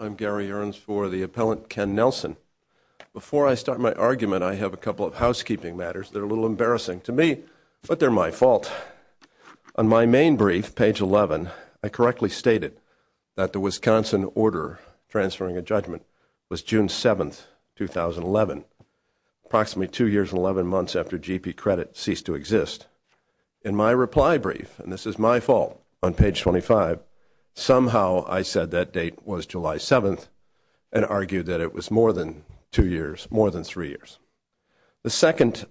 I am Gary Earns for the Appellant Ken Nelson. Before I start my argument, I have a couple of housekeeping matters that are a little embarrassing to me, but they are my fault. On my main brief, page 11, I correctly stated that the Wisconsin order transferring a judgment was June 7, 2011, approximately two years and 11 months after GP credit ceased to exist. In my reply brief, somehow I said that date was July 7, 2011, and argued that it was more than three years. The second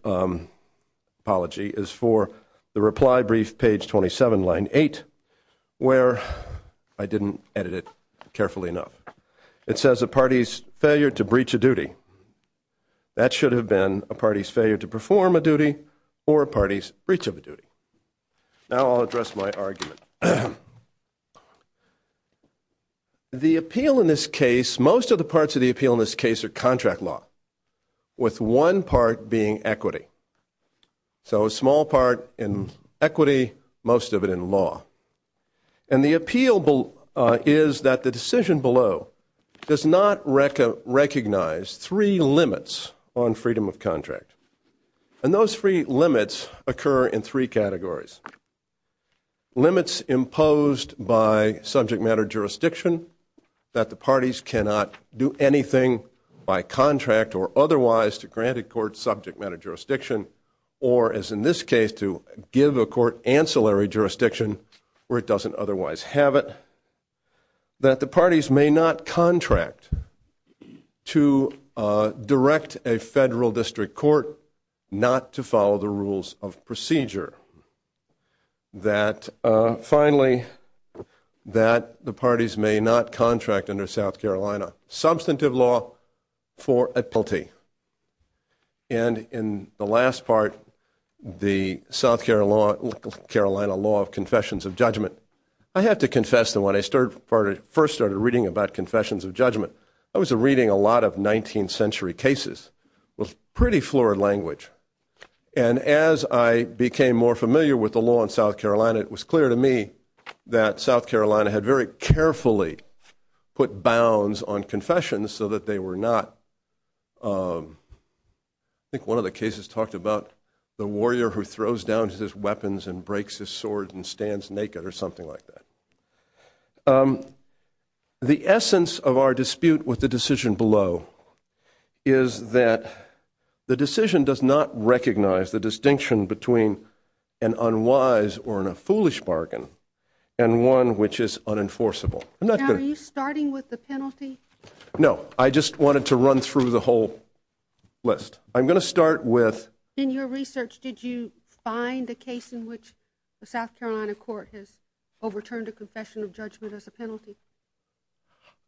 apology is for the reply brief, page 27, line 8, where I did not edit it carefully enough. It says a party's failure to breach a duty. That should have been a party's failure to perform a duty or a party's breach of a duty. Now I'll address my argument. The appeal in this case, most of the parts of the appeal in this case are contract law, with one part being equity. So a small part in equity, most of it in law. And the appeal is that the decision below does not recognize three limits on freedom of contract. And those three limits occur in three categories. Limits imposed by subject matter jurisdiction, that the parties cannot do anything by contract or otherwise to granted court subject matter jurisdiction, or as in this case, to give to a court ancillary jurisdiction where it doesn't otherwise have it. That the parties may not contract to direct a federal district court not to follow the rules of procedure. That finally, that the parties may not contract under South Carolina substantive law for a penalty. And in the last part, the South Carolina law of confessions of judgment, I have to confess that when I first started reading about confessions of judgment, I was reading a lot of 19th century cases with pretty fluid language. And as I became more familiar with the law in South Carolina, it was clear to me that South Carolina had very carefully put bounds on confessions so that they were not, you know, I think one of the cases talked about the warrior who throws down his weapons and breaks his sword and stands naked or something like that. The essence of our dispute with the decision below is that the decision does not recognize the distinction between an unwise or a foolish bargain and one which is unenforceable. I'm not going to... Now, are you starting with the penalty? No. I just wanted to run through the whole list. I'm going to start with... In your research, did you find a case in which the South Carolina court has overturned a confession of judgment as a penalty?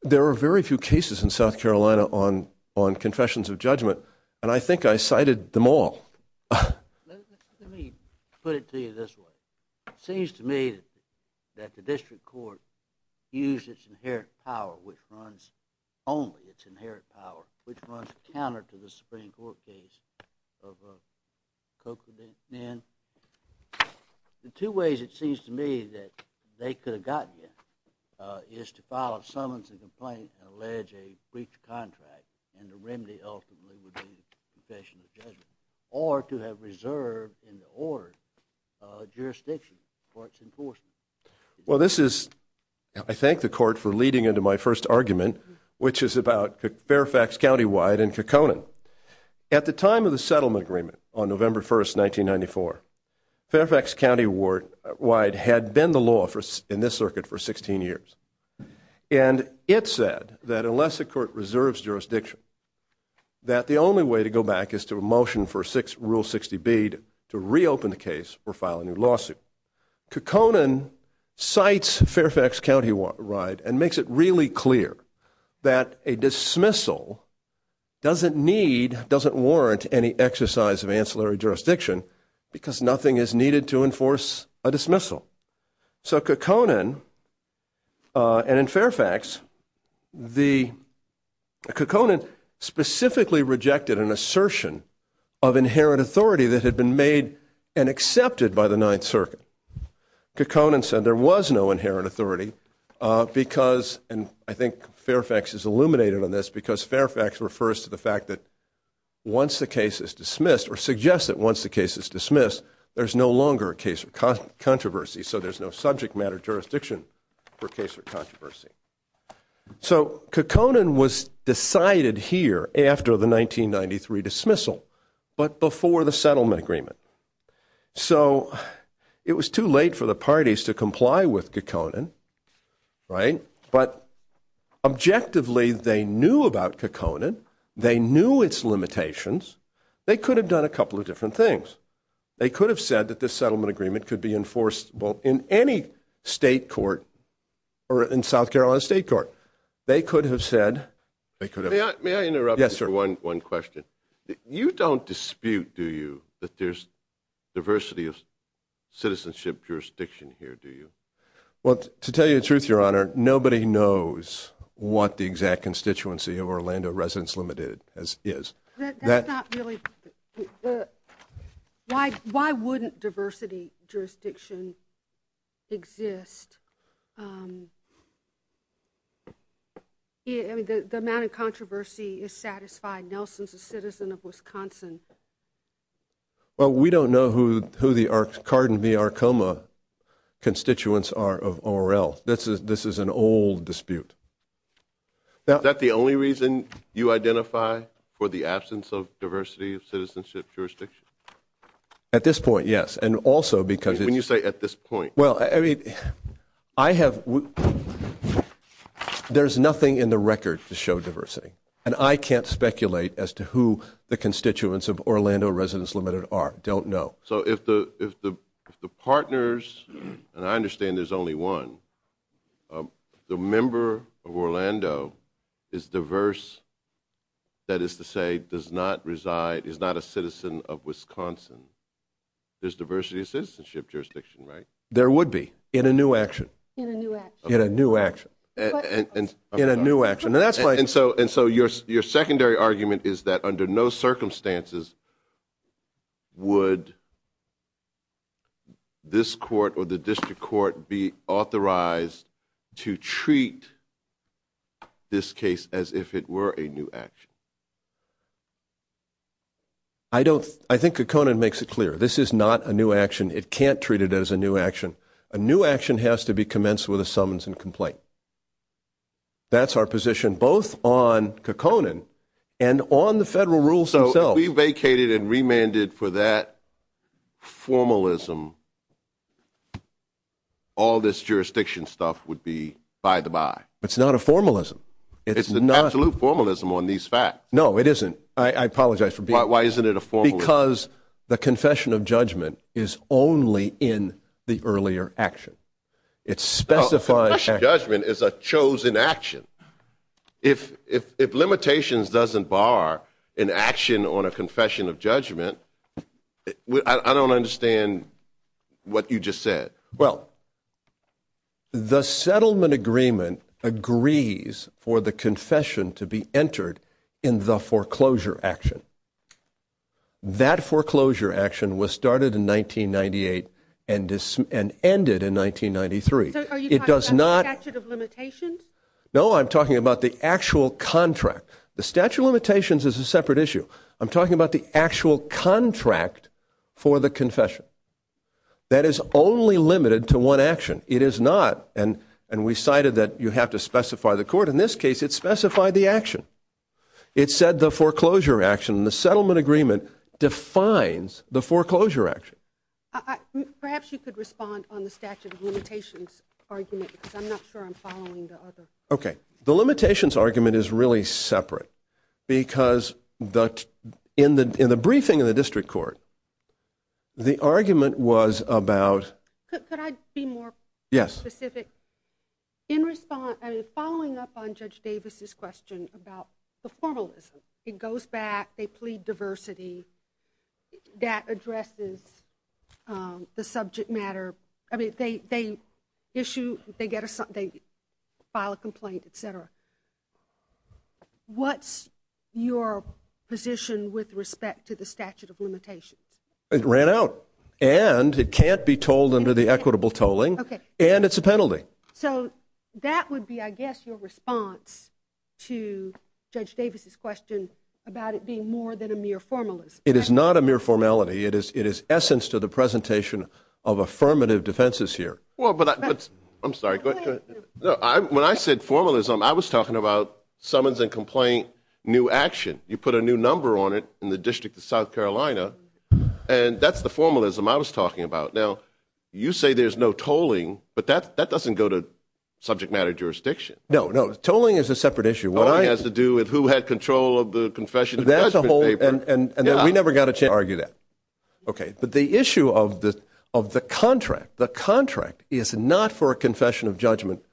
There are very few cases in South Carolina on confessions of judgment and I think I cited them all. Let me put it to you this way. It seems to me that the district court used its inherent power, which runs, only its inherent power, which runs counter to the Supreme Court case of Cochran and Nen. The two ways it seems to me that they could have gotten it is to file a summons and complaint and allege a breach of contract and the remedy ultimately would be confession of judgment or to have reserved in the ordered jurisdiction for its enforcement. Well, this is... I thank the court for leading into my first argument, which is about Fairfax County-wide and Caconan. At the time of the settlement agreement on November 1st, 1994, Fairfax County-wide had been the law in this circuit for 16 years. And it said that unless the court reserves jurisdiction that the only way to go back is to motion for Rule 60B to reopen the case or file a new lawsuit. Caconan cites Fairfax County-wide and makes it really clear that a dismissal doesn't need, doesn't warrant any exercise of ancillary jurisdiction because nothing is needed to enforce a dismissal. So Caconan, and in Fairfax, the... Caconan specifically rejected an assertion of inherent authority that had been made and accepted by the Ninth Circuit. Caconan said there was no inherent authority because, and I think Fairfax is illuminated on this, because Fairfax refers to the fact that once the case is dismissed or suggests that once the case is dismissed, there's no longer a case of controversy. So there's no subject matter jurisdiction for case of controversy. So Caconan was decided here after the 1993 dismissal, but before the settlement agreement. So it was too late for the parties to comply with Caconan, right? But objectively, they knew about Caconan. They knew its limitations. They could have done a couple of different things. They could have said that this settlement agreement could be enforceable in any state court or in South Carolina state court. They could have said... They could have... May I interrupt you for one question? You don't dispute, do you, that there's diversity of citizenship jurisdiction here, do you? Well, to tell you the truth, Your Honor, nobody knows what the exact constituency of Orlando Residence Limited is. Why wouldn't diversity jurisdiction exist? The amount of controversy is satisfied. Nelson's a citizen of Wisconsin. Well, we don't know who the Cardin v. Arcoma constituents are of ORL. This is an old dispute. Is that the only reason you identify for the absence of diversity of citizenship jurisdiction? At this point, yes. And also because... When you say at this point? Well, I mean, I have... There's nothing in the record to show diversity. And I can't speculate as to who the constituents of Orlando Residence Limited are. Don't know. So if the partners, and I understand there's only one, the member of Orlando is diverse, that is to say, does not reside, is not a citizen of Wisconsin, there's diversity of citizenship jurisdiction, right? There would be, in a new action. In a new action. In a new action. In a new action. And that's why... And so your secondary argument is that under no circumstances would this court or the district court be authorized to treat this case as if it were a new action? I don't... I think O'Connor makes it clear. This is not a new action. It can't treat it as a new action. A new action has to be commenced with a summons and complaint. That's our position, both on O'Connor and on the federal rules themselves. So if we vacated and remanded for that formalism, all this jurisdiction stuff would be by-the-by? It's not a formalism. It's not... It's an absolute formalism on these facts. No, it isn't. I apologize for being... Why isn't it a formalism? Because the confession of judgment is only in the earlier action. It specifies... Confession of judgment is a chosen action. If limitations doesn't bar an action on a confession of judgment, I don't understand what you just said. Well, the settlement agreement agrees for the confession to be entered in the foreclosure action. That foreclosure action was started in 1998 and ended in 1993. It does not... So are you talking about the statute of limitations? No, I'm talking about the actual contract. The statute of limitations is a separate issue. I'm talking about the actual contract for the confession. That is only limited to one action. It is not... And we cited that you have to specify the court. In this case, it specified the action. It said the foreclosure action. The settlement agreement defines the foreclosure action. Perhaps you could respond on the statute of limitations argument, because I'm not sure I'm following the other... Okay. The limitations argument is really separate, because in the briefing of the district court, the argument was about... Could I be more specific? Yes. In response... I mean, following up on Judge Davis's question about the formalism, it goes back, they plead diversity that addresses the subject matter. I mean, they issue, they file a complaint, et cetera. What's your position with respect to the statute of limitations? It ran out, and it can't be told under the equitable tolling, and it's a penalty. So that would be, I guess, your response to Judge Davis's question about it being more than a mere formalism. It is not a mere formality. It is essence to the presentation of affirmative defenses here. Well, but I... I'm sorry. Go ahead. When I said formalism, I was talking about summons and complaint new action. You put a new number on it in the District of South Carolina, and that's the formalism I was talking about. Now, you say there's no tolling, but that doesn't go to subject matter jurisdiction. No, no. Tolling is a separate issue. What I... Tolling has to do with who had control of the confession of judgment paper. And we never got a chance to argue that. Okay. But the issue of the contract, the contract is not for a confession of judgment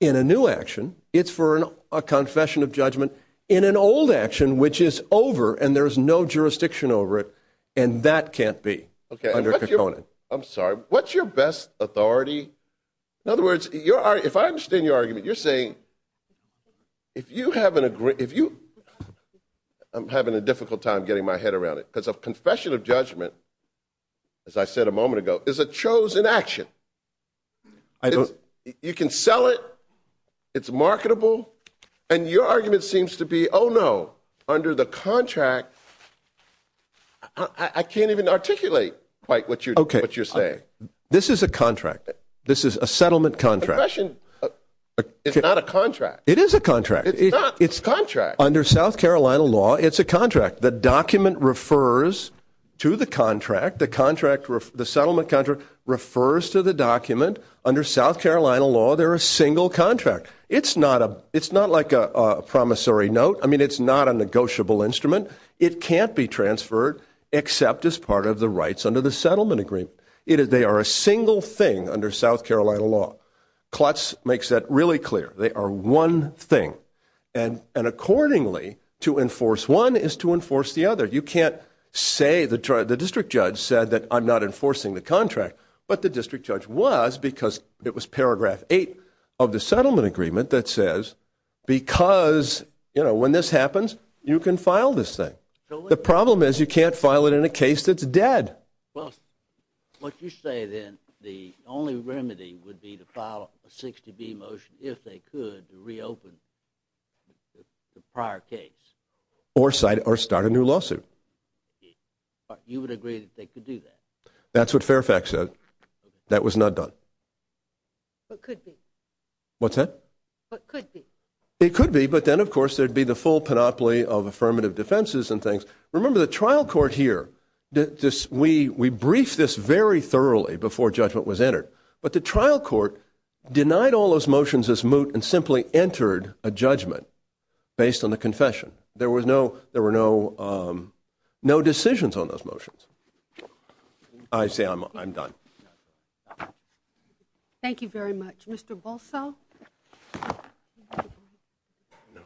in a new action. It's for a confession of judgment in an old action, which is over, and there's no jurisdiction over it, and that can't be under Kekone. I'm sorry. What's your best authority? In other words, if I understand your argument, you're saying, if you haven't agree... If you... I'm having a difficult time getting my head around it, because a confession of judgment, as I said a moment ago, is a chosen action. You can sell it. It's marketable. And your argument seems to be, oh, no, under the contract, I can't even articulate quite what you're saying. Okay. This is a contract. This is a settlement contract. A confession is not a contract. It is a contract. It's not. It's a contract. Under South Carolina law, it's a contract. The document refers to the contract. The contract... The settlement contract refers to the document. Under South Carolina law, they're a single contract. It's not a... It's not like a promissory note. I mean, it's not a negotiable instrument. It can't be transferred except as part of the rights under the settlement agreement. They are a single thing under South Carolina law. Klutz makes that really clear. They are one thing. And accordingly, to enforce one is to enforce the other. You can't say... The district judge said that I'm not enforcing the contract. But the district judge was, because it was paragraph eight of the settlement agreement that says, because, you know, when this happens, you can file this thing. The problem is, you can't file it in a case that's dead. Well, what you say then, the only remedy would be to file a 60B motion, if they could, to reopen the prior case. Or start a new lawsuit. You would agree that they could do that? That's what Fairfax said. That was not done. But could they? What's that? It could be. But could be. It could be, but then, of course, there'd be the full panoply of affirmative defenses and things. Remember, the trial court here, we briefed this very thoroughly before judgment was entered. But the trial court denied all those motions as moot and simply entered a judgment based on the confession. There were no decisions on those motions. I say I'm done. Thank you very much. Mr. Bolso? No.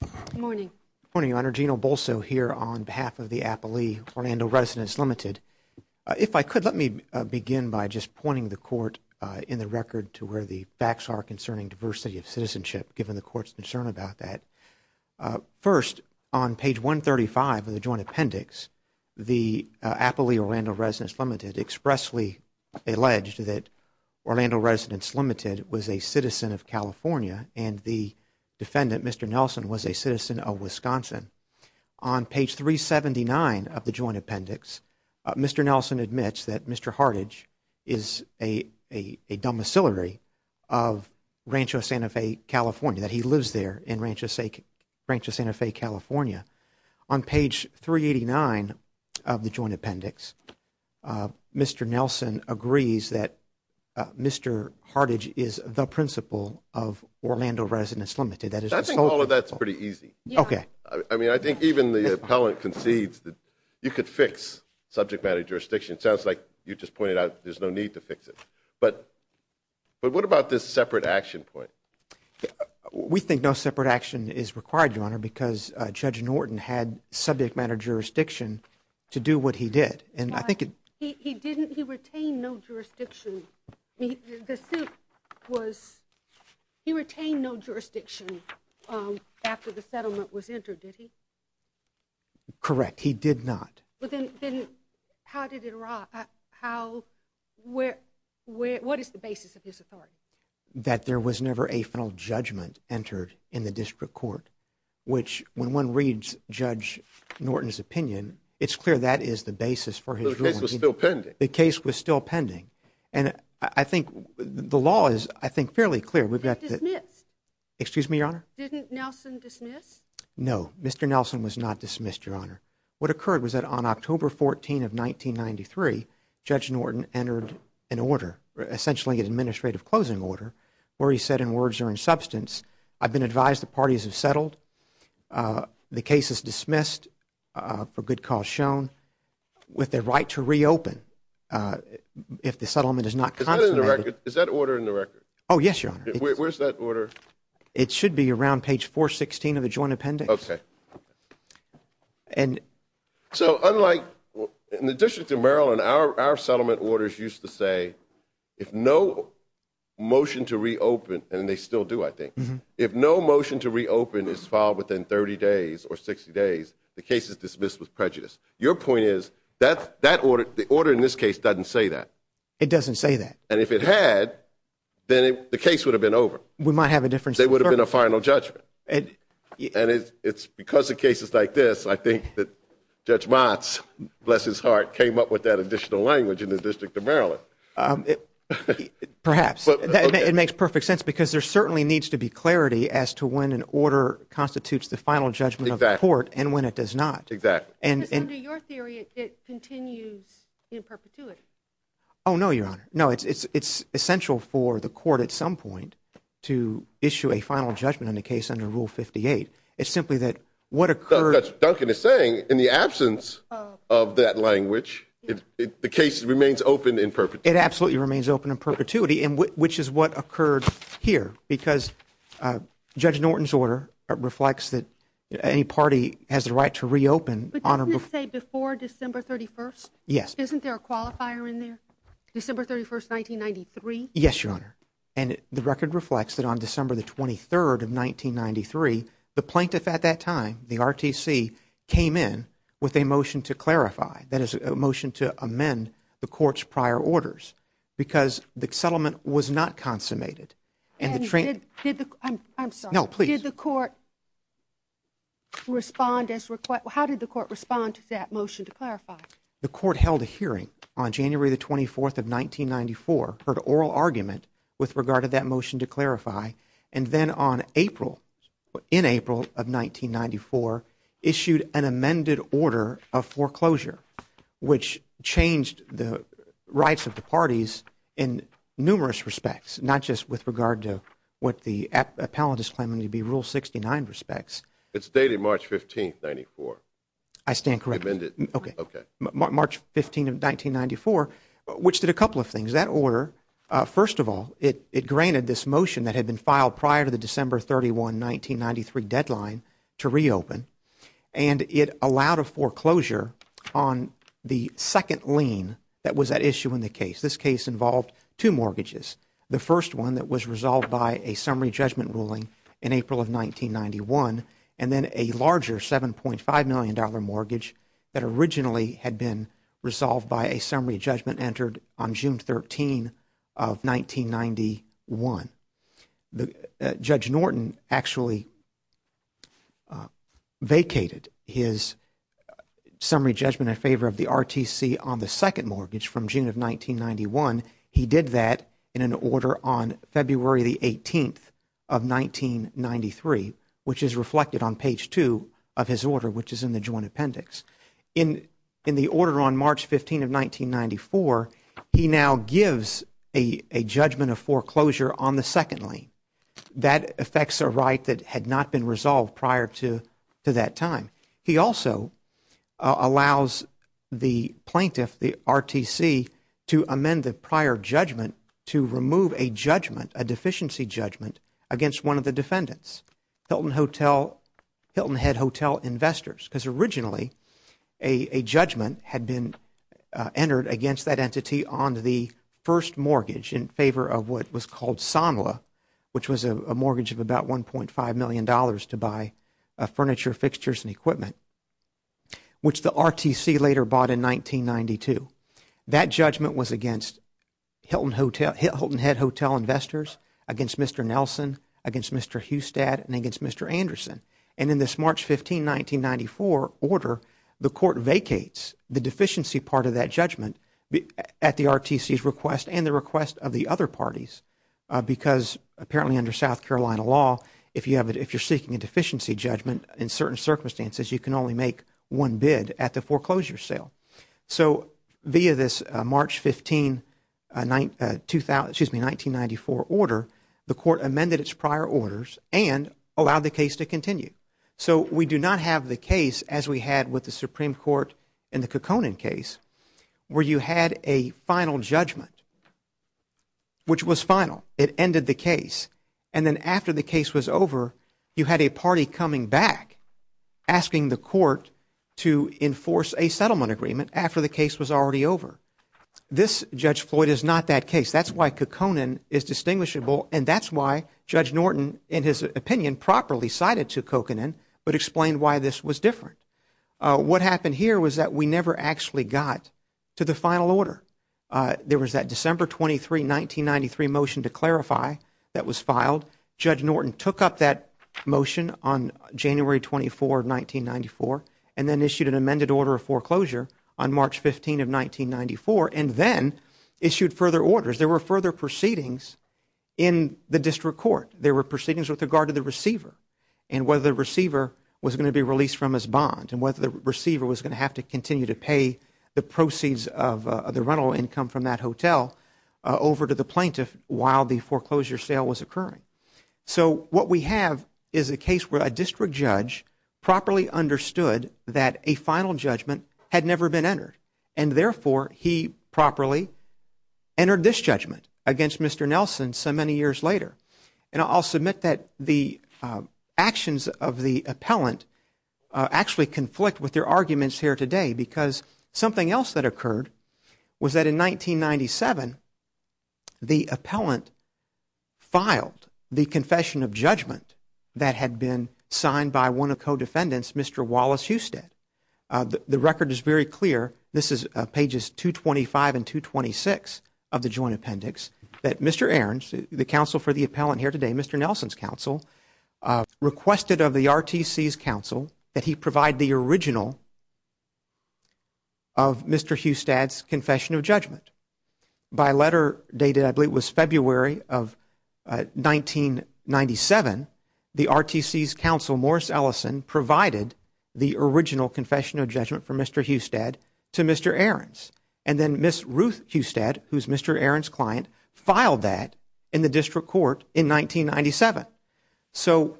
Good morning. Good morning, Your Honor. Gino Bolso here on behalf of the Applee-Orlando Residence Limited. If I could, let me begin by just pointing the Court in the record to where the facts are concerning diversity of citizenship, given the Court's concern about that. First, on page 135 of the joint appendix, the Applee-Orlando Residence Limited expressly alleged that Orlando Residence Limited was a citizen of California and the defendant, Mr. Nelson, was a citizen of Wisconsin. On page 379 of the joint appendix, Mr. Nelson admits that Mr. Hartage is a domiciliary of Rancho Santa Fe, California, that he lives there in Rancho Santa Fe, California. On page 389 of the joint appendix, Mr. Nelson agrees that Mr. Hartage is the principal of Orlando Residence Limited. That is the sole principal. I think all of that is pretty easy. Okay. I mean, I think even the appellant concedes that you could fix subject matter jurisdiction. It sounds like you just pointed out there's no need to fix it. But what about this separate action point? We think no separate action is required, Your Honor, because Judge Norton had subject matter jurisdiction to do what he did. And I think it He didn't. He retained no jurisdiction. The suit was, he retained no jurisdiction after the settlement was entered, did he? Correct. He did not. Then how did it, how, where, what is the basis of his authority? That there was never a final judgment entered in the district court, which when one reads Judge Norton's opinion, it's clear that is the basis for his ruling. But the case was still pending. The case was still pending. And I think the law is, I think, fairly clear. We've got the Did he dismiss? Excuse me, Your Honor? Didn't Nelson dismiss? No. Mr. Nelson was not dismissed, Your Honor. What occurred was that on October 14 of 1993, Judge Norton entered an order, essentially an administrative closing order, where he said in words or in substance, I've been advised the parties have settled. The case is dismissed for good cause shown with the right to reopen if the settlement is not consummated. Is that in the record? Is that order in the record? Oh, yes, Your Honor. Where's that order? It should be around page 416 of the joint appendix. Okay. And If no motion to reopen, and they still do, I think, if no motion to reopen is filed within 30 days or 60 days, the case is dismissed with prejudice. Your point is that the order in this case doesn't say that. It doesn't say that. And if it had, then the case would have been over. We might have a difference. There would have been a final judgment. And it's because of cases like this, I think that Judge Motz, bless his heart, came up with that additional language in the District of Maryland. Perhaps. It makes perfect sense, because there certainly needs to be clarity as to when an order constitutes the final judgment of the court and when it does not. Exactly. Because under your theory, it continues in perpetuity. Oh, no, Your Honor. No, it's essential for the court at some point to issue a final judgment on a case under Rule 58. It's simply that what occurred... The case remains open in perpetuity. It absolutely remains open in perpetuity, which is what occurred here. Because Judge Norton's order reflects that any party has the right to reopen. But doesn't it say before December 31st? Yes. Isn't there a qualifier in there? December 31st, 1993? Yes, Your Honor. And the record reflects that on December 23rd of 1993, the plaintiff at that time, the RTC, came in with a motion to clarify. That is, a motion to amend the court's prior orders. Because the settlement was not consummated. And the... Did the... I'm sorry. No, please. Did the court respond as required? How did the court respond to that motion to clarify? The court held a hearing on January the 24th of 1994, heard oral argument with regard to that motion to clarify, and then on April, in April of 1994, issued an amended order of foreclosure, which changed the rights of the parties in numerous respects, not just with regard to what the appellant is claiming to be Rule 69 respects. It's dated March 15th, 1994. I stand corrected. Amended. Okay. Okay. March 15th, 1994, which did a couple of things. That order, first of all, it granted this motion that had been filed prior to the December 31, 1993 deadline to reopen. And it allowed a foreclosure on the second lien that was at issue in the case. This case involved two mortgages. The first one that was resolved by a summary judgment ruling in April of 1991, and then a larger $7.5 million mortgage that originally had been resolved by a summary judgment entered on June 13 of 1991. Judge Norton actually vacated his summary judgment in favor of the RTC on the second mortgage from June of 1991. He did that in an order on February the 18th of 1993, which is reflected on page two of his order, which is in the joint appendix. In the order on March 15 of 1994, he now gives a judgment of foreclosure on the second lien. That affects a right that had not been resolved prior to that time. He also allows the plaintiff, the RTC, to amend the prior judgment to remove a judgment, a deficiency judgment, against one of the defendants, Hilton Hotel, Hilton Head Hotel Investors, because originally a judgment had been entered against that entity on the first mortgage in favor of what was called SOMLA, which was a mortgage of about $1.5 million to buy furniture, fixtures, and equipment, which the RTC later bought in 1992. That judgment was against Hilton Head Hotel Investors, against Mr. Nelson, against Mr. Hustad, and against Mr. Anderson. In this March 15, 1994 order, the court vacates the deficiency part of that judgment at the RTC's request and the request of the other parties, because apparently under South Carolina law if you're seeking a deficiency judgment in certain circumstances, you can only make one bid at the foreclosure sale. So via this March 15, excuse me, 1994 order, the court amended its prior orders and allowed the case to continue. So we do not have the case as we had with the Supreme Court in the Kekkonen case, where you had a final judgment, which was final. It ended the case. And then after the case was over, you had a party coming back asking the court to enforce a settlement agreement after the case was already over. This Judge Floyd is not that case. That's why Kekkonen is distinguishable, and that's why Judge Norton, in his opinion, properly cited to Kekkonen, but explained why this was different. What happened here was that we never actually got to the final order. There was that December 23, 1993 motion to clarify that was filed. Judge Norton took up that motion on January 24, 1994, and then issued an amended order of foreclosure on March 15 of 1994, and then issued further orders. There were further proceedings in the district court. There were proceedings with regard to the receiver, and whether the receiver was going to be released from his bond, and whether the receiver was going to have to continue to pay the proceeds of the rental income from that hotel over to the plaintiff while the foreclosure sale was occurring. So what we have is a case where a district judge properly understood that a final judgment had never been entered, and therefore, he properly entered this judgment against Mr. Nelson so many years later. And I'll submit that the actions of the appellant actually conflict with their arguments here today because something else that occurred was that in 1997, the appellant filed the confession of judgment that had been signed by one of co-defendants, Mr. Wallace Husted. The record is very clear. This is pages 225 and 226 of the joint appendix that Mr. Arons, the counsel for the appellant here today, Mr. Nelson's counsel, requested of the RTC's counsel that he provide the original of Mr. Husted's confession of judgment. By letter dated, I believe it was February of 1997, the RTC's counsel, Morris Ellison, provided the original confession of judgment for Mr. Husted to Mr. Arons. And then Ms. Ruth Husted, who's Mr. Arons' client, filed that in the district court in 1997. So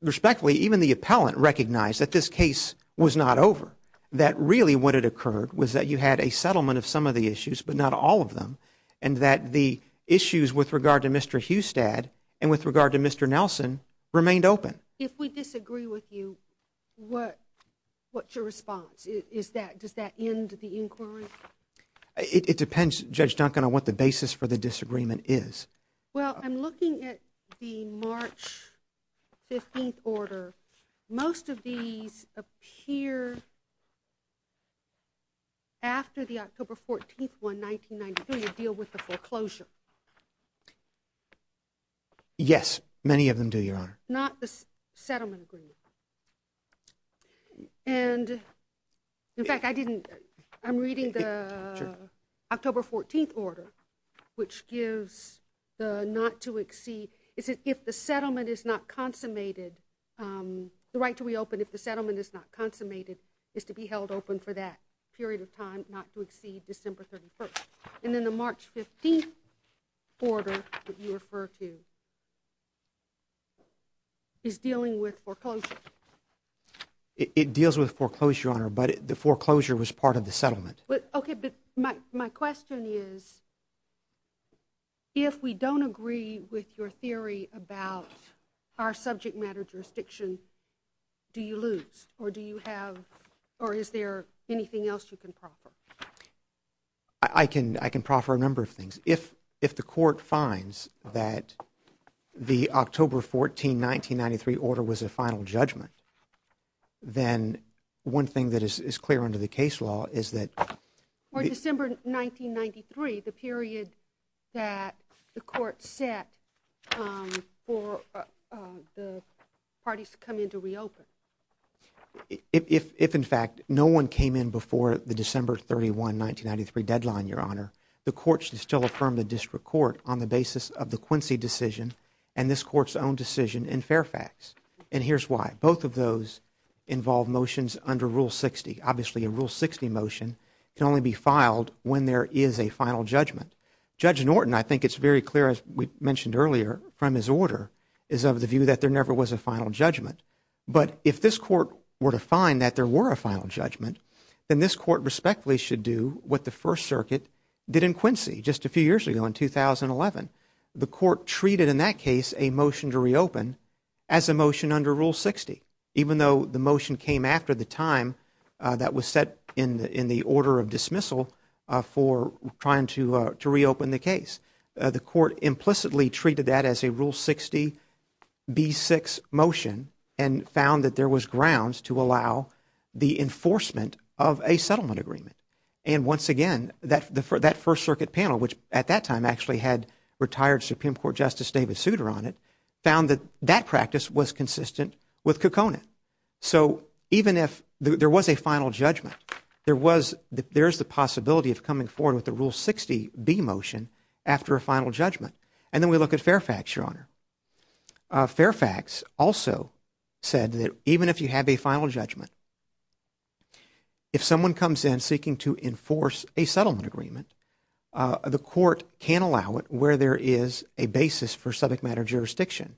respectfully, even the appellant recognized that this case was not over, that really what had occurred was that you had a settlement of some of the issues, but not all of them, and that the issues with regard to Mr. Husted and with regard to Mr. Nelson remained open. If we disagree with you, what's your response? Is that, does that end the inquiry? It depends, Judge Duncan, on what the basis for the disagreement is. Well, I'm looking at the March 15th order. Most of these appear after the October 14th one, 1993, to deal with the foreclosure. Yes, many of them do, Your Honor. Not the settlement agreement. And in fact, I didn't, I'm reading the October 14th order, which gives the not to exceed, is it if the settlement is not consummated, the right to reopen if the settlement is not consummated, is to be held open for that period of time, not to exceed December 31st. And then the March 15th order that you refer to is dealing with foreclosure. It deals with foreclosure, Your Honor, but the foreclosure was part of the settlement. Okay, but my question is, if we don't agree with your theory about our subject matter jurisdiction, do you lose, or do you have, or is there anything else you can proffer? I can, I can proffer a number of things. If the court finds that the October 14th, 1993 order was a final judgment, then one thing that is clear under the case law is that... For December 1993, the period that the court set for the parties to come in to reopen. If, in fact, no one came in before the December 31, 1993 deadline, Your Honor, the court should still affirm the district court on the basis of the Quincy decision and this court's own decision in Fairfax. And here's why. Both of those involve motions under Rule 60. Obviously, a Rule 60 motion can only be filed when there is a final judgment. Judge Norton, I think it's very clear, as we mentioned earlier from his order, is of the view that there never was a final judgment. But if this court were to find that there were a final judgment, then this court respectfully should do what the First Circuit did in Quincy just a few years ago in 2011. The court treated, in that case, a motion to reopen as a motion under Rule 60, even though the motion came after the time that was set in the order of dismissal for trying to reopen the case. The court implicitly treated that as a Rule 60b6 motion and found that there was grounds to allow the enforcement of a settlement agreement. And once again, that First Circuit panel, which at that time actually had retired Supreme Court Justice David Souter on it, found that that practice was consistent with Kokona. So even if there was a final judgment, there is the possibility of coming forward with a Rule 60b motion after a final judgment. And then we look at Fairfax, Your Honor. Fairfax also said that even if you have a final judgment, if someone comes in seeking to enforce a settlement agreement, the court can't allow it where there is a basis for subject matter jurisdiction,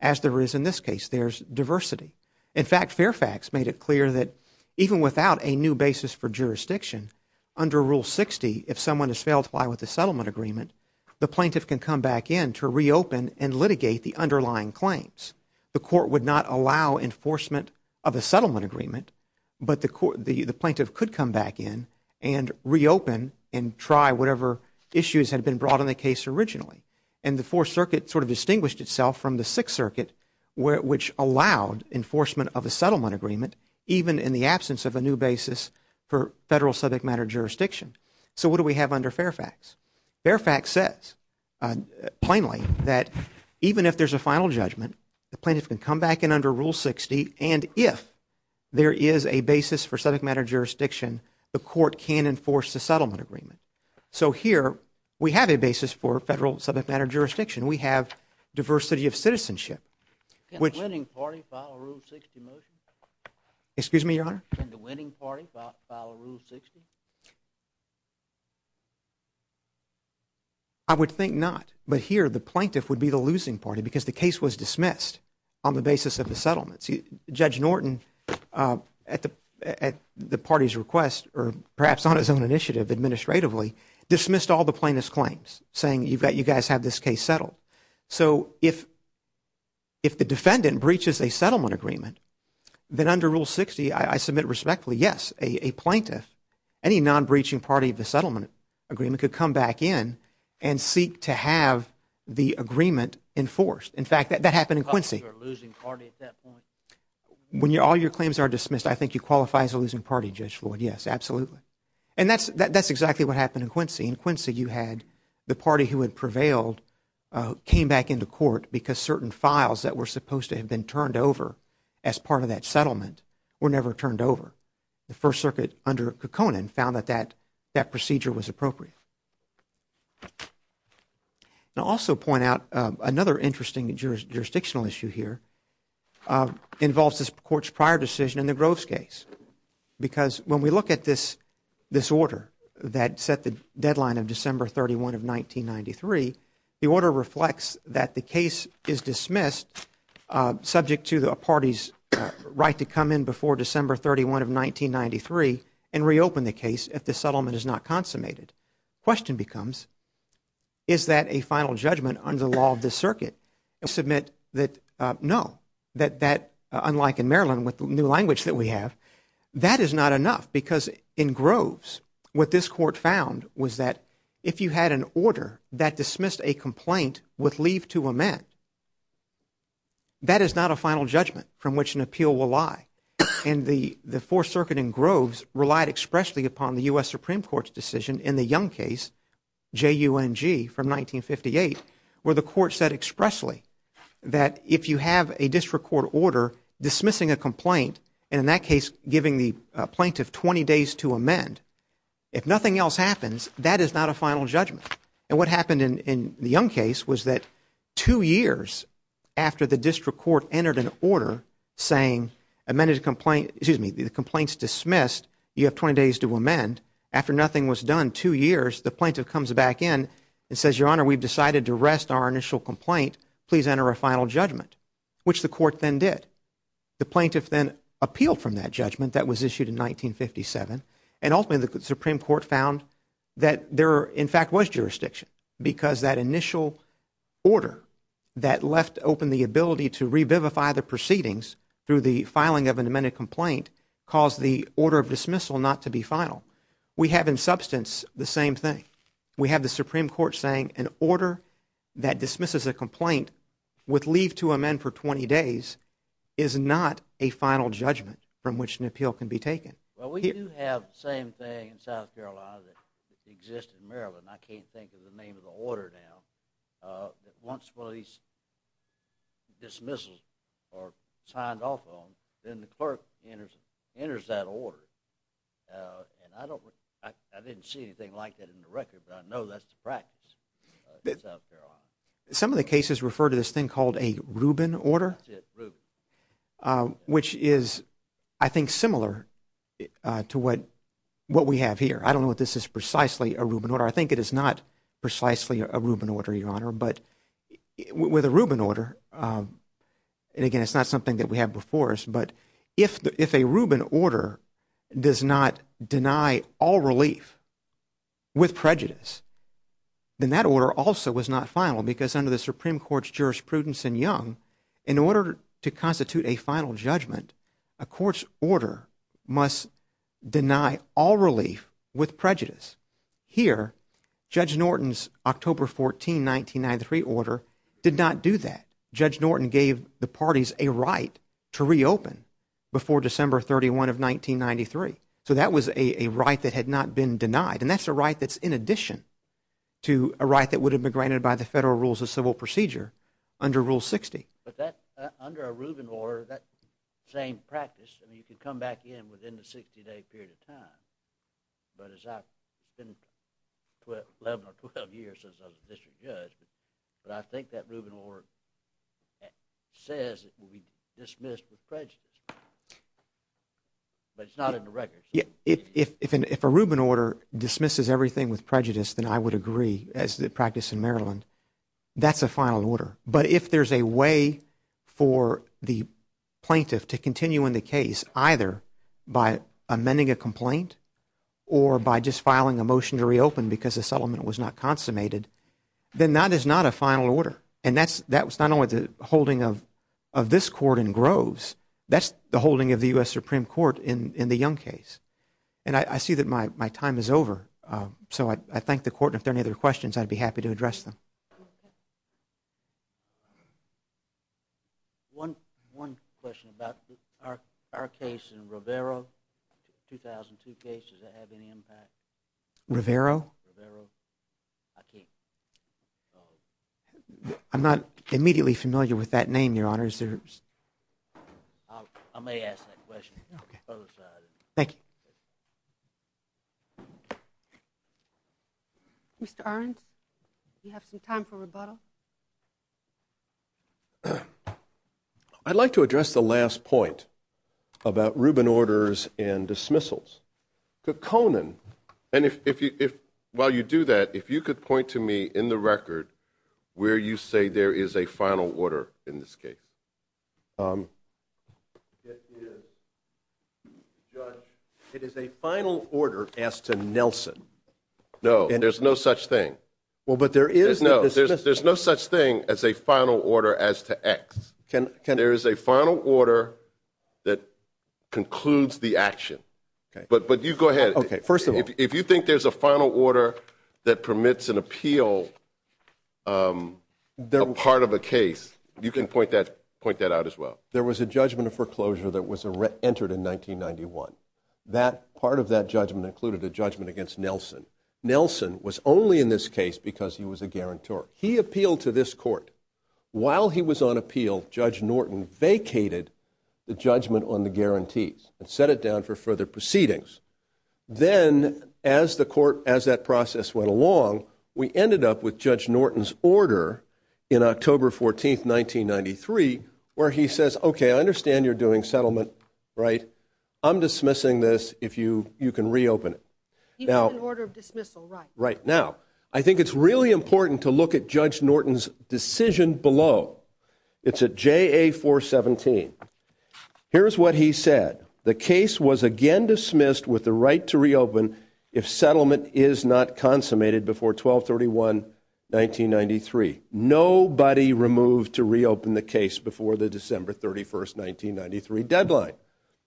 as there is in this case. There's diversity. In fact, Fairfax made it clear that even without a new basis for jurisdiction under Rule 60, if someone has failed to comply with the settlement agreement, the plaintiff can come back in to reopen and litigate the underlying claims. The court would not allow enforcement of a settlement agreement, but the plaintiff could come back in and reopen and try whatever issues had been brought in the case originally. And the Fourth Circuit sort of distinguished itself from the Sixth Circuit, which allowed enforcement of a settlement agreement, even in the absence of a new basis for federal subject matter jurisdiction. So what do we have under Fairfax? Fairfax says, plainly, that even if there's a final judgment, the plaintiff can come back in under Rule 60, and if there is a basis for subject matter jurisdiction, the court can enforce the settlement agreement. So here, we have a basis for federal subject matter jurisdiction. We have diversity of citizenship, which- Can the winning party file a Rule 60 motion? Excuse me, Your Honor? Can the winning party file a Rule 60? I would think not. But here, the plaintiff would be the losing party, because the case was dismissed on the basis of the settlements. Judge Norton, at the party's request, or perhaps on his own initiative administratively, dismissed all the plaintiff's claims, saying, you guys have this case settled. So if the defendant breaches a settlement agreement, then under Rule 60, I submit respectfully, yes, a plaintiff, any non-breaching party of the settlement agreement, could come back in and seek to have the agreement enforced. In fact, that happened in Quincy. Are you a losing party at that point? When all your claims are dismissed, I think you qualify as a losing party, Judge Floyd, yes, absolutely. And that's exactly what happened in Quincy. In Quincy, you had the party who had prevailed came back into court because certain files that were supposed to have been turned over as part of that settlement were never turned over. The First Circuit, under Kekkonen, found that that procedure was appropriate. And I'll also point out another interesting jurisdictional issue here involves this Court's prior decision in the Groves case. Because when we look at this order that set the deadline of December 31 of 1993, the order reflects that the case is dismissed subject to the party's right to come in before December 31 of 1993 and reopen the case if the settlement is not consummated. Question becomes, is that a final judgment under the law of the Circuit? I submit that no, that unlike in Maryland with the new language that we have, that is not enough. Because in Groves, what this Court found was that if you had an order that dismissed a complaint with leave to amend, that is not a final judgment from which an appeal will lie. And the Fourth Circuit in Groves relied expressly upon the U.S. Supreme Court's decision in the Young case, J.U.N.G., from 1958, where the Court said expressly that if you have a district court order dismissing a complaint, and in that case giving the plaintiff 20 days to amend, if nothing else happens, that is not a final judgment. And what happened in the Young case was that two years after the district court entered an order saying the complaint is dismissed, you have 20 days to amend, after nothing was done two years, the plaintiff comes back in and says, Your Honor, we've decided to rest our initial complaint, please enter a final judgment, which the Court then did. The plaintiff then appealed from that judgment that was issued in 1957, and ultimately the Because that initial order that left open the ability to revivify the proceedings through the filing of an amended complaint caused the order of dismissal not to be final. We have in substance the same thing. We have the Supreme Court saying an order that dismisses a complaint with leave to amend for 20 days is not a final judgment from which an appeal can be taken. Well, we do have the same thing in South Carolina that exists in Maryland, and I can't think of the name of the order now, that once one of these dismissals are signed off on, then the clerk enters that order, and I didn't see anything like that in the record, but I know that's the practice in South Carolina. Some of the cases refer to this thing called a Rubin order, which is, I think, similar to what we have here. I don't know if this is precisely a Rubin order. I think it is not precisely a Rubin order, Your Honor. But with a Rubin order, and again, it's not something that we have before us, but if a Rubin order does not deny all relief with prejudice, then that order also was not final because under the Supreme Court's jurisprudence in Young, in order to constitute a final judgment, a court's order must deny all relief with prejudice. Here, Judge Norton's October 14, 1993 order did not do that. Judge Norton gave the parties a right to reopen before December 31 of 1993. So that was a right that had not been denied, and that's a right that's in addition to a right that would have been granted by the Federal Rules of Civil Procedure under Rule 60. But that, under a Rubin order, that same practice, I mean, you can come back in within the 60-day period of time, but it's been 11 or 12 years since I was a district judge, but I think that Rubin order says it will be dismissed with prejudice, but it's not in the records. Yeah. If a Rubin order dismisses everything with prejudice, then I would agree, as it practiced in Maryland, that's a final order. But if there's a way for the plaintiff to continue in the case, either by amending a complaint or by just filing a motion to reopen because the settlement was not consummated, then that is not a final order. And that's not only the holding of this court in Groves, that's the holding of the U.S. Supreme Court in the Young case. And I see that my time is over, so I thank the court, and if there are any other questions, I'd be happy to address them. One question about our case in Rivero, 2002 case, does that have any impact? Rivero? Rivero. I can't. I'm not immediately familiar with that name, Your Honor. I may ask that question. Okay. Thank you. Mr. Arendt, do you have some time for rebuttal? I'd like to address the last point about Rubin orders and dismissals. Could Conan, and while you do that, if you could point to me in the record where you say there is a final order in this case. It is, Judge, it is a final order as to Nelson. No, there's no such thing. But there is a dismissal. No, there's no such thing as a final order as to X. There is a final order that concludes the action. But you go ahead. Okay, first of all. Point that out as well. There was a judgment of foreclosure that was entered in 1991. Part of that judgment included a judgment against Nelson. Nelson was only in this case because he was a guarantor. He appealed to this court. While he was on appeal, Judge Norton vacated the judgment on the guarantees and set it down for further proceedings. Then as the court, as that process went along, we ended up with Judge Norton's order in October 14, 1993, where he says, okay, I understand you're doing settlement, right? I'm dismissing this if you can reopen it. He had an order of dismissal, right. Right. Now, I think it's really important to look at Judge Norton's decision below. It's at JA 417. Here's what he said. The case was again dismissed with the right to reopen if settlement is not consummated before 12-31, 1993. Nobody removed to reopen the case before the December 31, 1993 deadline.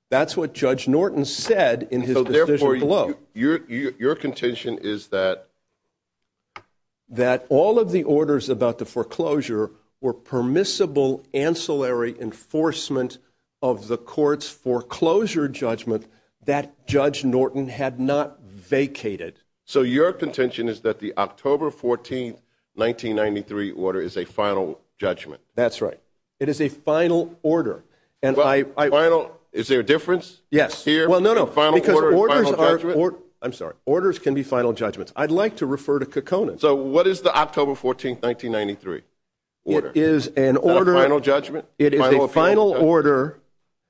That's what Judge Norton said in his decision below. Your contention is that? That all of the orders about the foreclosure were permissible ancillary enforcement of the court's foreclosure judgment that Judge Norton had not vacated. So your contention is that the October 14, 1993 order is a final judgment? That's right. It is a final order. Is there a difference? Yes. Well, no, no. Because orders can be final judgments. I'd like to refer to Kokona. So what is the October 14, 1993 order? It is an order. A final judgment? It is a final order,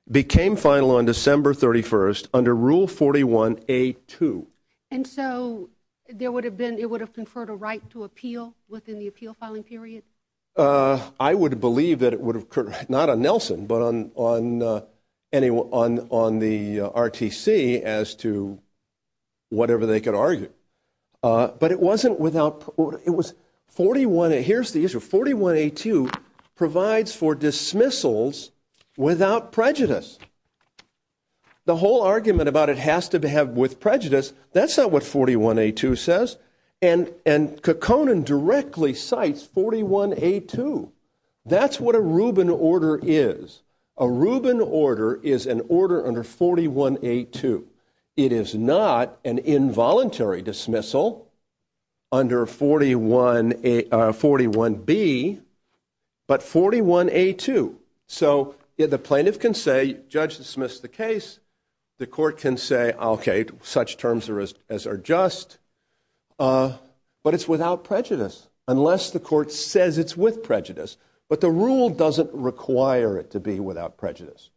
became final on December 31st under Rule 41A2. And so there would have been, it would have conferred a right to appeal within the appeal filing period? I would believe that it would have, not on Nelson, but on the RTC as to whatever they could argue. But it wasn't without, it was 41, here's the issue, 41A2 provides for dismissals without prejudice. The whole argument about it has to have with prejudice, that's not what 41A2 says. And Kokona directly cites 41A2. That's what a Rubin order is. A Rubin order is an order under 41A2. It is not an involuntary dismissal under 41B, but 41A2. So the plaintiff can say, judge dismissed the case. The court can say, okay, such terms as are just. But it's without prejudice, unless the court says it's with prejudice. But the rule doesn't require it to be without prejudice.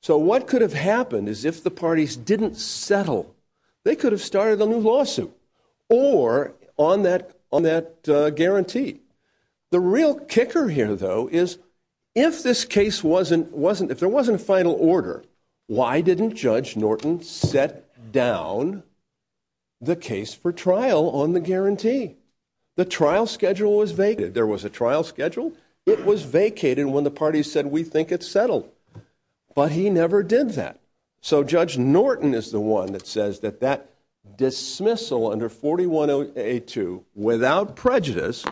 So what could have happened is if the parties didn't settle, they could have started a new lawsuit or on that guarantee. The real kicker here, though, is if this case wasn't, if there wasn't a final order, why didn't Judge Norton set down the case for trial on the guarantee? The trial schedule was vacated. There was a trial schedule. It was vacated when the parties said, we think it's settled. But he never did that. So Judge Norton is the one that says that that dismissal under 41A2, without prejudice,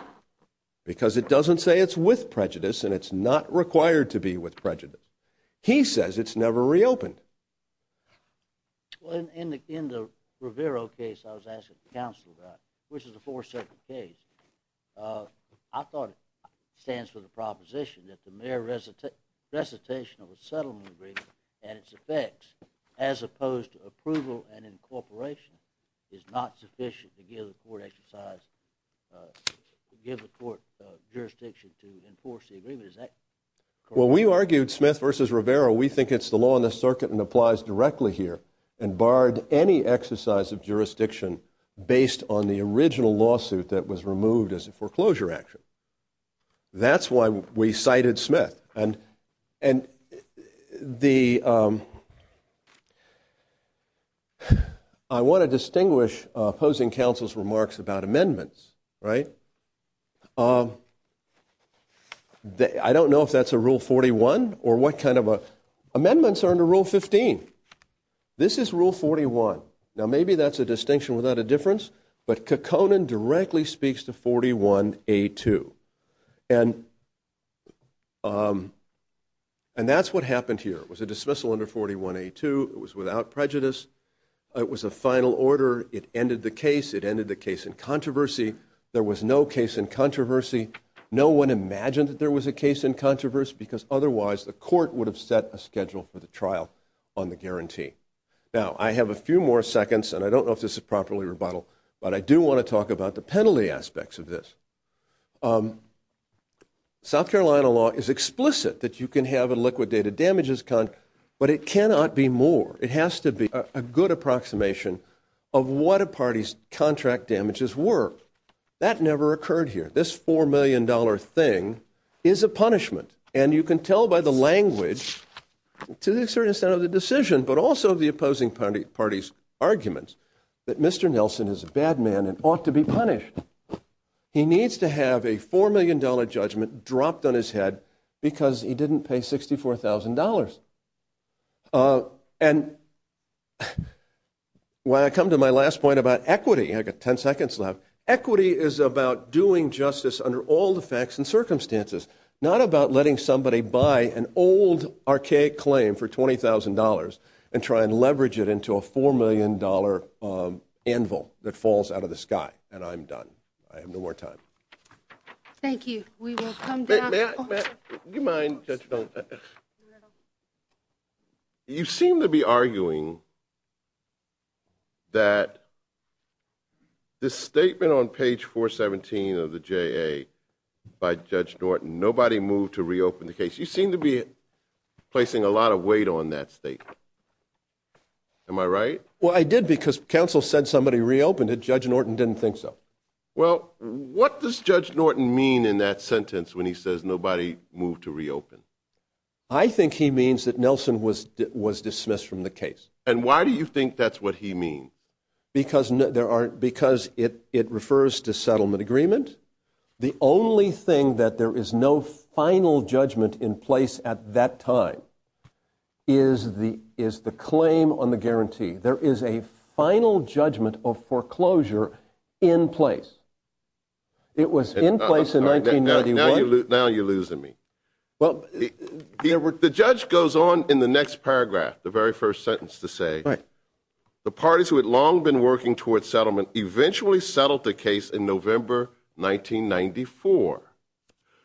because it doesn't say it's with prejudice and it's not required to be with prejudice, he says it's never reopened. In the Rivero case I was asking the counsel about, which is a four-circuit case, I thought it stands for the proposition that the mere recitation of a settlement agreement and its effects, as opposed to approval and incorporation, is not sufficient to give the court jurisdiction to enforce the agreement. Is that correct? Well, we argued Smith v. Rivero, we think it's the law in the circuit and applies directly here, and barred any exercise of jurisdiction based on the original lawsuit that was removed as a foreclosure action. That's why we cited Smith. And I want to distinguish opposing counsel's remarks about amendments, right? I don't know if that's a Rule 41 or what kind of a... Amendments are under Rule 15. This is Rule 41. Now maybe that's a distinction without a difference, but Kekkonen directly speaks to 41A2. And that's what happened here. It was a dismissal under 41A2. It was without prejudice. It was a final order. It ended the case. It ended the case in controversy. There was no case in controversy. No one imagined that there was a case in controversy because otherwise the court would have set a schedule for the trial on the guarantee. Now, I have a few more seconds, and I don't know if this is properly rebuttal, but I do want to talk about the penalty aspects of this. South Carolina law is explicit that you can have a liquidated damages contract, but it cannot be more. It has to be a good approximation of what a party's contract damages were. That never occurred here. This $4 million thing is a punishment. And you can tell by the language, to a certain extent of the decision, but also the opposing party's arguments that Mr. Nelson is a bad man and ought to be punished. He needs to have a $4 million judgment dropped on his head because he didn't pay $64,000. And when I come to my last point about equity, I've got 10 seconds left, equity is about doing justice under all the facts and circumstances, not about letting somebody buy an old, archaic claim for $20,000 and try and leverage it into a $4 million anvil that falls out of the sky. And I'm done. I have no more time. Thank you. We will come back. May I? You seem to be arguing that this statement on page 417 of the JA by Judge Norton, nobody moved to reopen the case. You seem to be placing a lot of weight on that statement. Am I right? Well, I did because counsel said somebody reopened it, Judge Norton didn't think so. Well, what does Judge Norton mean in that sentence when he says nobody moved to reopen? I think he means that Nelson was dismissed from the case. And why do you think that's what he means? Because it refers to settlement agreement. The only thing that there is no final judgment in place at that time is the claim on the guarantee. There is a final judgment of foreclosure in place. It was in place in 1991. Now you're losing me. Well, the judge goes on in the next paragraph, the very first sentence to say, the parties who had long been working towards settlement eventually settled the case in November 1994.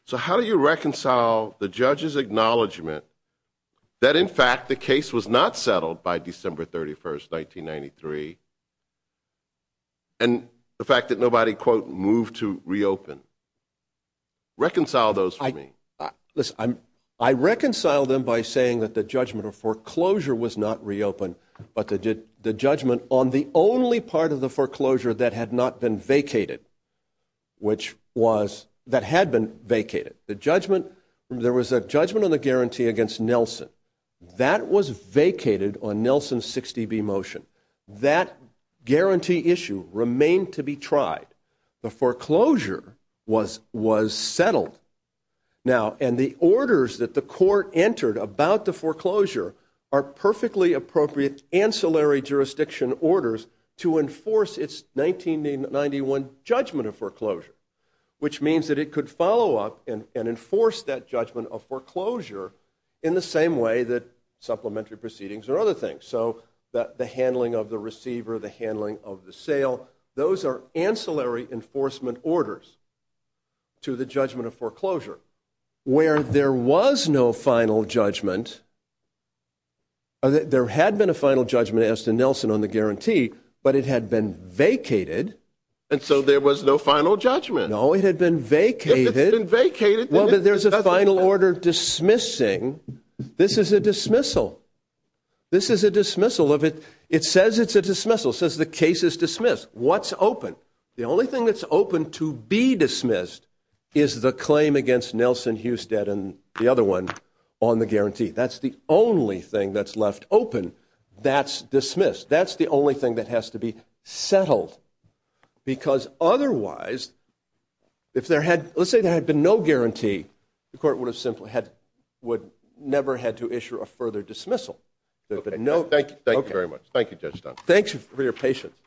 So how do you reconcile the judge's acknowledgement that, in fact, the case was not settled by December 31st, 1993, and the fact that nobody, quote, moved to reopen? Reconcile those for me. Listen, I reconcile them by saying that the judgment of foreclosure was not reopened, but the judgment on the only part of the foreclosure that had not been vacated, which was, that had been vacated. The judgment, there was a judgment on the guarantee against Nelson. That was vacated on Nelson's 60B motion. That guarantee issue remained to be tried. The foreclosure was settled. Now, and the orders that the court entered about the foreclosure are perfectly appropriate ancillary jurisdiction orders to enforce its 1991 judgment of foreclosure, which means that it could follow up and enforce that judgment of foreclosure in the same way that supplementary proceedings or other things. So the handling of the receiver, the handling of the sale, those are ancillary enforcement orders to the judgment of foreclosure. Where there was no final judgment, there had been a final judgment as to Nelson on the guarantee, but it had been vacated. And so there was no final judgment. No, it had been vacated. It had been vacated. Well, but there's a final order dismissing. This is a dismissal. This is a dismissal. It says it's a dismissal. It says the case is dismissed. What's open? The only thing that's open to be dismissed is the claim against Nelson Husted and the other one on the guarantee. That's the only thing that's left open that's dismissed. That's the only thing that has to be settled. Because otherwise, if there had, let's say there had been no guarantee, the court would have simply had, would never had to issue a further dismissal. Thank you very much. Thank you, Judge Dunn. Thanks for your patience.